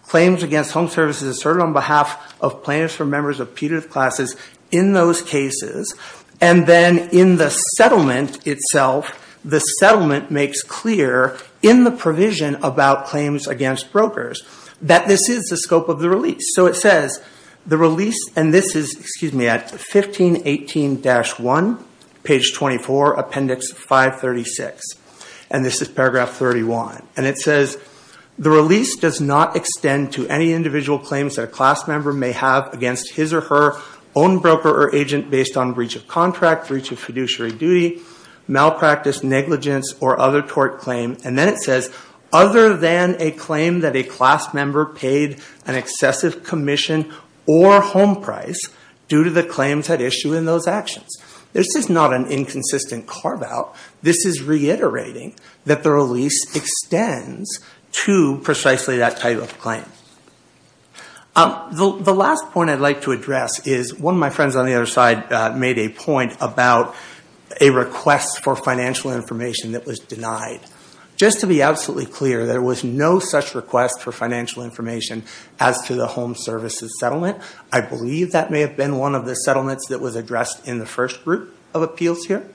claims against home services asserted on behalf of plaintiffs or members of putative classes in those cases, and then in the settlement itself, the settlement makes clear in the provision about claims against brokers that this is the scope of the release. So it says the release, and this is, excuse me, at 1518-1, page 24, appendix 536, and this is paragraph 31. And it says the release does not extend to any individual claims that a class member may have against his or her own broker or agent based on breach of contract, breach of fiduciary duty, malpractice, negligence, or other tort claim. And then it says, other than a claim that a class member paid an excessive commission or home price due to the claims at issue in those actions. This is not an inconsistent carve-out. This is reiterating that the release extends to precisely that type of claim. The last point I'd like to address is one of my friends on the other side made a point about a request for financial information that was denied. Just to be absolutely clear, there was no such request for financial information as to the home services settlement. I believe that may have been one of the settlements that was addressed in the first group of appeals here.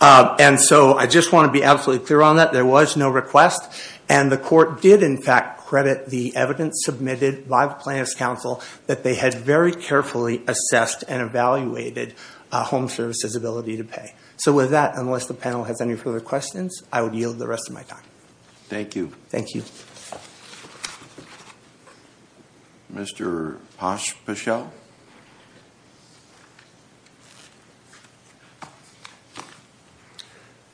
And so I just want to be absolutely clear on that. There was no request, and the court did, in fact, credit the evidence submitted by the plaintiff's counsel that they had very carefully assessed and evaluated a home service's ability to pay. So with that, unless the panel has any further questions, I would yield the rest of my time. Thank you. Thank you. Mr. Pospisil.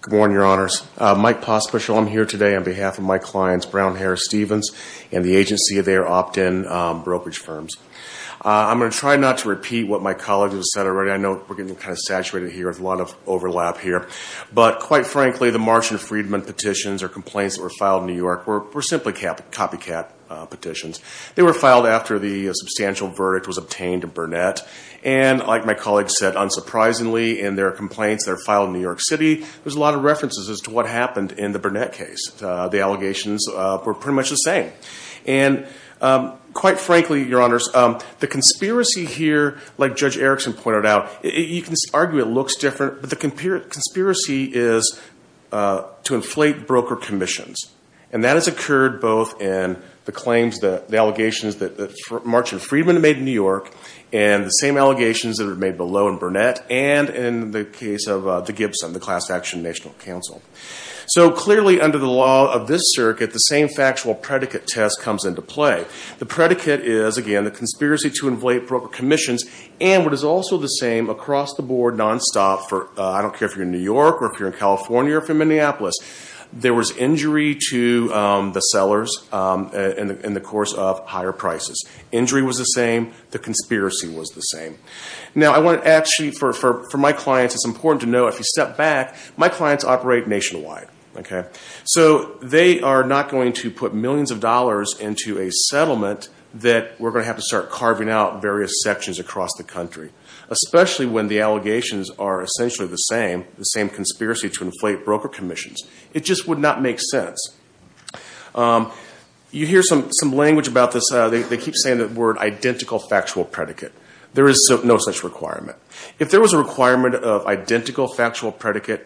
Good morning, Your Honors. Mike Pospisil. I'm here today on behalf of my clients, Brown, Harris, Stevens, and the agency of their opt-in brokerage firms. I'm going to try not to repeat what my colleagues have said already. I know we're getting kind of saturated here. There's a lot of overlap here. But quite frankly, the Marsh and Friedman petitions or complaints that were filed in New York were simply copycat petitions. They were filed after the substantial verdict was obtained in Burnett. And like my colleagues said, unsurprisingly in their complaints that are filed in New York City, there's a lot of references as to what happened in the Burnett case. And the allegations were pretty much the same. And quite frankly, Your Honors, the conspiracy here, like Judge Erickson pointed out, you can argue it looks different, but the conspiracy is to inflate broker commissions. And that has occurred both in the claims, the allegations that Marsh and Friedman made in New York and the same allegations that are made below in Burnett and in the case of the Gibson, the Class Action National Council. So clearly under the law of this circuit, the same factual predicate test comes into play. The predicate is, again, the conspiracy to inflate broker commissions. And what is also the same across the board, nonstop, I don't care if you're in New York or if you're in California or if you're in Minneapolis, there was injury to the sellers in the course of higher prices. Injury was the same. The conspiracy was the same. Now I want to actually, for my clients, it's important to know if you step back, my clients operate nationwide. So they are not going to put millions of dollars into a settlement that we're going to have to start carving out various sections across the country, especially when the allegations are essentially the same, the same conspiracy to inflate broker commissions. It just would not make sense. You hear some language about this, they keep saying the word identical factual predicate. There is no such requirement. If there was a requirement of identical factual predicate,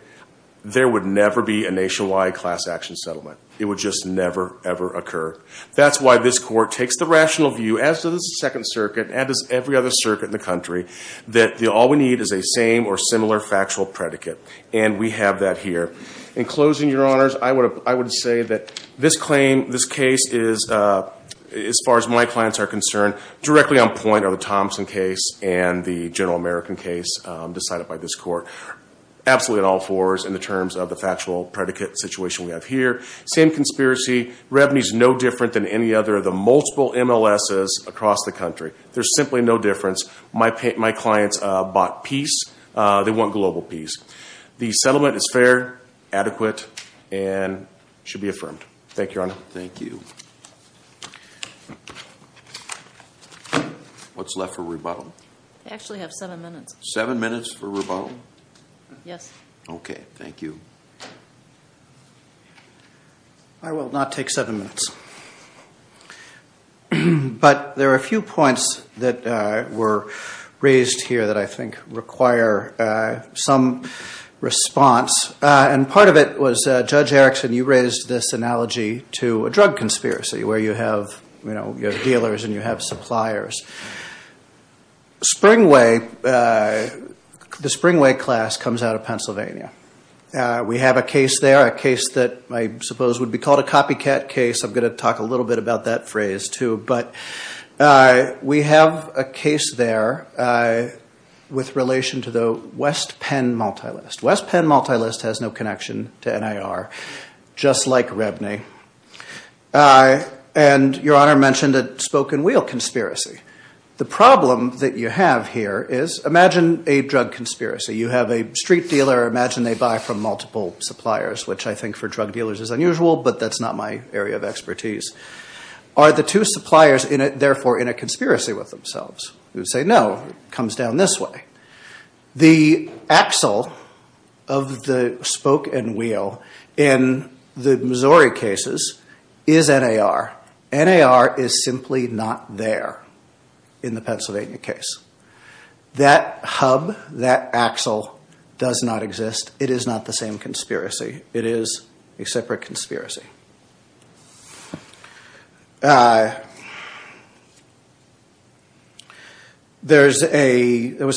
there would never be a nationwide class action settlement. It would just never, ever occur. That's why this court takes the rational view, as does the Second Circuit, as does every other circuit in the country, that all we need is a same or similar factual predicate. And we have that here. In closing, Your Honors, I would say that this claim, this case, as far as my clients are concerned, directly on point are the Thompson case and the General American case decided by this court. Absolutely on all fours in the terms of the factual predicate situation we have here. Same conspiracy. Revenue is no different than any other of the multiple MLSs across the country. There's simply no difference. My clients bought peace. They want global peace. The settlement is fair, adequate, and should be affirmed. Thank you, Your Honor. Thank you. What's left for rebuttal? I actually have seven minutes. Seven minutes for rebuttal? Yes. Okay. Thank you. I will not take seven minutes. But there are a few points that were raised here that I think require some response. And part of it was, Judge Erickson, you raised this analogy to a drug conspiracy. Where you have dealers and you have suppliers. The Springway class comes out of Pennsylvania. We have a case there, a case that I suppose would be called a copycat case. I'm going to talk a little bit about that phrase too. But we have a case there with relation to the West Penn Multilist. West Penn Multilist has no connection to NIR, just like Rebny. And Your Honor mentioned a spoke-and-wheel conspiracy. The problem that you have here is, imagine a drug conspiracy. You have a street dealer. Imagine they buy from multiple suppliers, which I think for drug dealers is unusual, but that's not my area of expertise. Are the two suppliers, therefore, in a conspiracy with themselves? You say, no, it comes down this way. The axle of the spoke-and-wheel in the Missouri cases is NIR. NIR is simply not there in the Pennsylvania case. That hub, that axle, does not exist. It is not the same conspiracy. It is a separate conspiracy. There was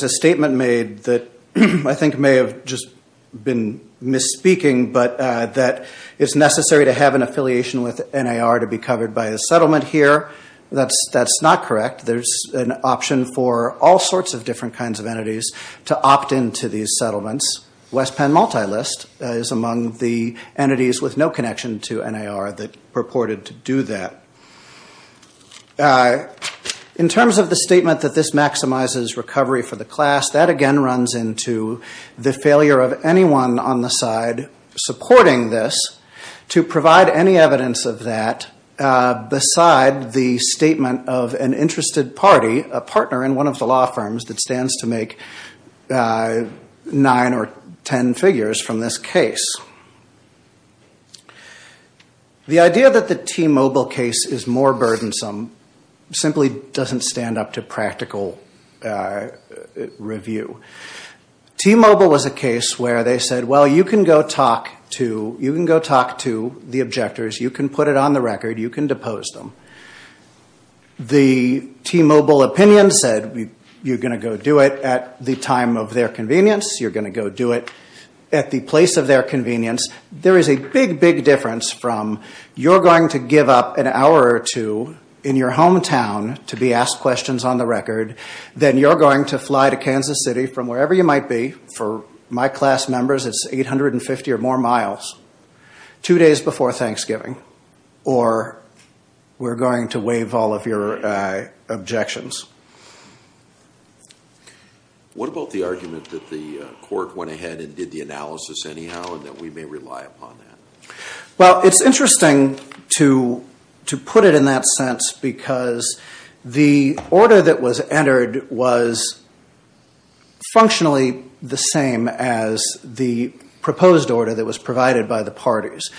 a statement made that I think may have just been misspeaking, but that it's necessary to have an affiliation with NIR to be covered by a settlement here. That's not correct. There's an option for all sorts of different kinds of entities to opt into these settlements. West Penn Multilist is among the entities with no connection to NIR that purported to do that. In terms of the statement that this maximizes recovery for the class, that again runs into the failure of anyone on the side supporting this to provide any evidence of that beside the statement of an interested party, a partner in one of the law firms that stands to make nine or ten figures from this case. The idea that the T-Mobile case is more burdensome simply doesn't stand up to practical review. T-Mobile was a case where they said, well, you can go talk to the objectors. You can put it on the record. You can depose them. The T-Mobile opinion said, you're going to go do it at the time of their convenience. You're going to go do it at the place of their convenience. There is a big, big difference from You're going to give up an hour or two in your hometown to be asked questions on the record. Then you're going to fly to Kansas City from wherever you might be. For my class members, it's 850 or more miles two days before Thanksgiving, or we're going to waive all of your objections. What about the argument that the court went ahead and did the analysis anyhow, and that we may rely upon that? Well, it's interesting to put it in that sense because the order that was entered was functionally the same as the proposed order that was provided by the parties.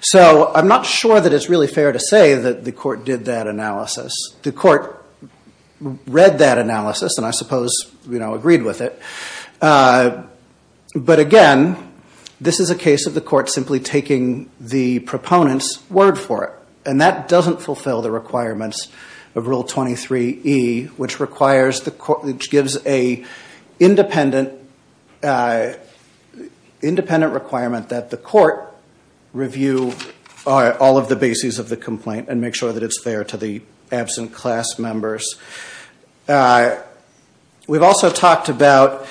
So I'm not sure that it's really fair to say that the court did that analysis. The court read that analysis, and I suppose agreed with it. But again, this is a case of the court simply taking the proponent's word for it, and that doesn't fulfill the requirements of Rule 23E, which gives an independent requirement that the court review all of the bases of the complaint and make sure that it's fair to the absent class members. We've also talked about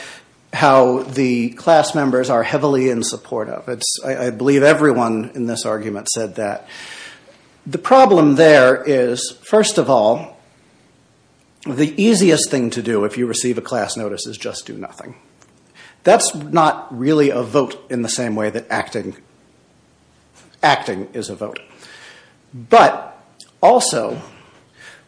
how the class members are heavily in support of it. I believe everyone in this argument said that. The problem there is, first of all, the easiest thing to do if you receive a class notice is just do nothing. That's not really a vote in the same way that acting is a vote. But also,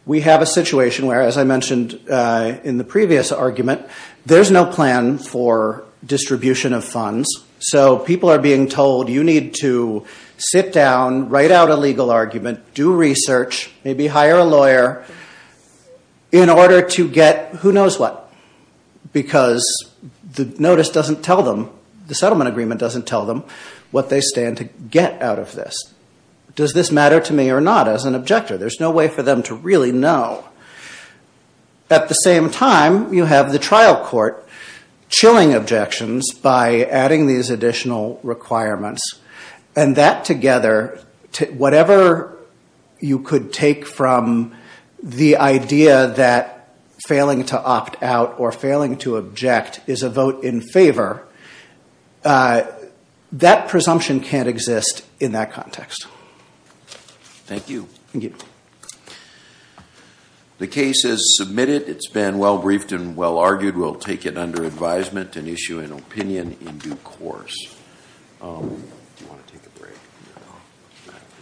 we have a situation where, as I mentioned in the previous argument, there's no plan for distribution of funds. So people are being told you need to sit down, write out a legal argument, do research, maybe hire a lawyer in order to get who knows what, because the notice doesn't tell them, the settlement agreement doesn't tell them what they stand to get out of this. Does this matter to me or not as an objector? There's no way for them to really know. At the same time, you have the trial court chilling objections by adding these additional requirements, and that together, whatever you could take from the idea that failing to opt out or failing to object is a vote in favor, that presumption can't exist in that context. Thank you. Thank you. The case is submitted. It's been well-briefed and well-argued. We'll take it under advisement and issue an opinion in due course. Do you want to take a break? No.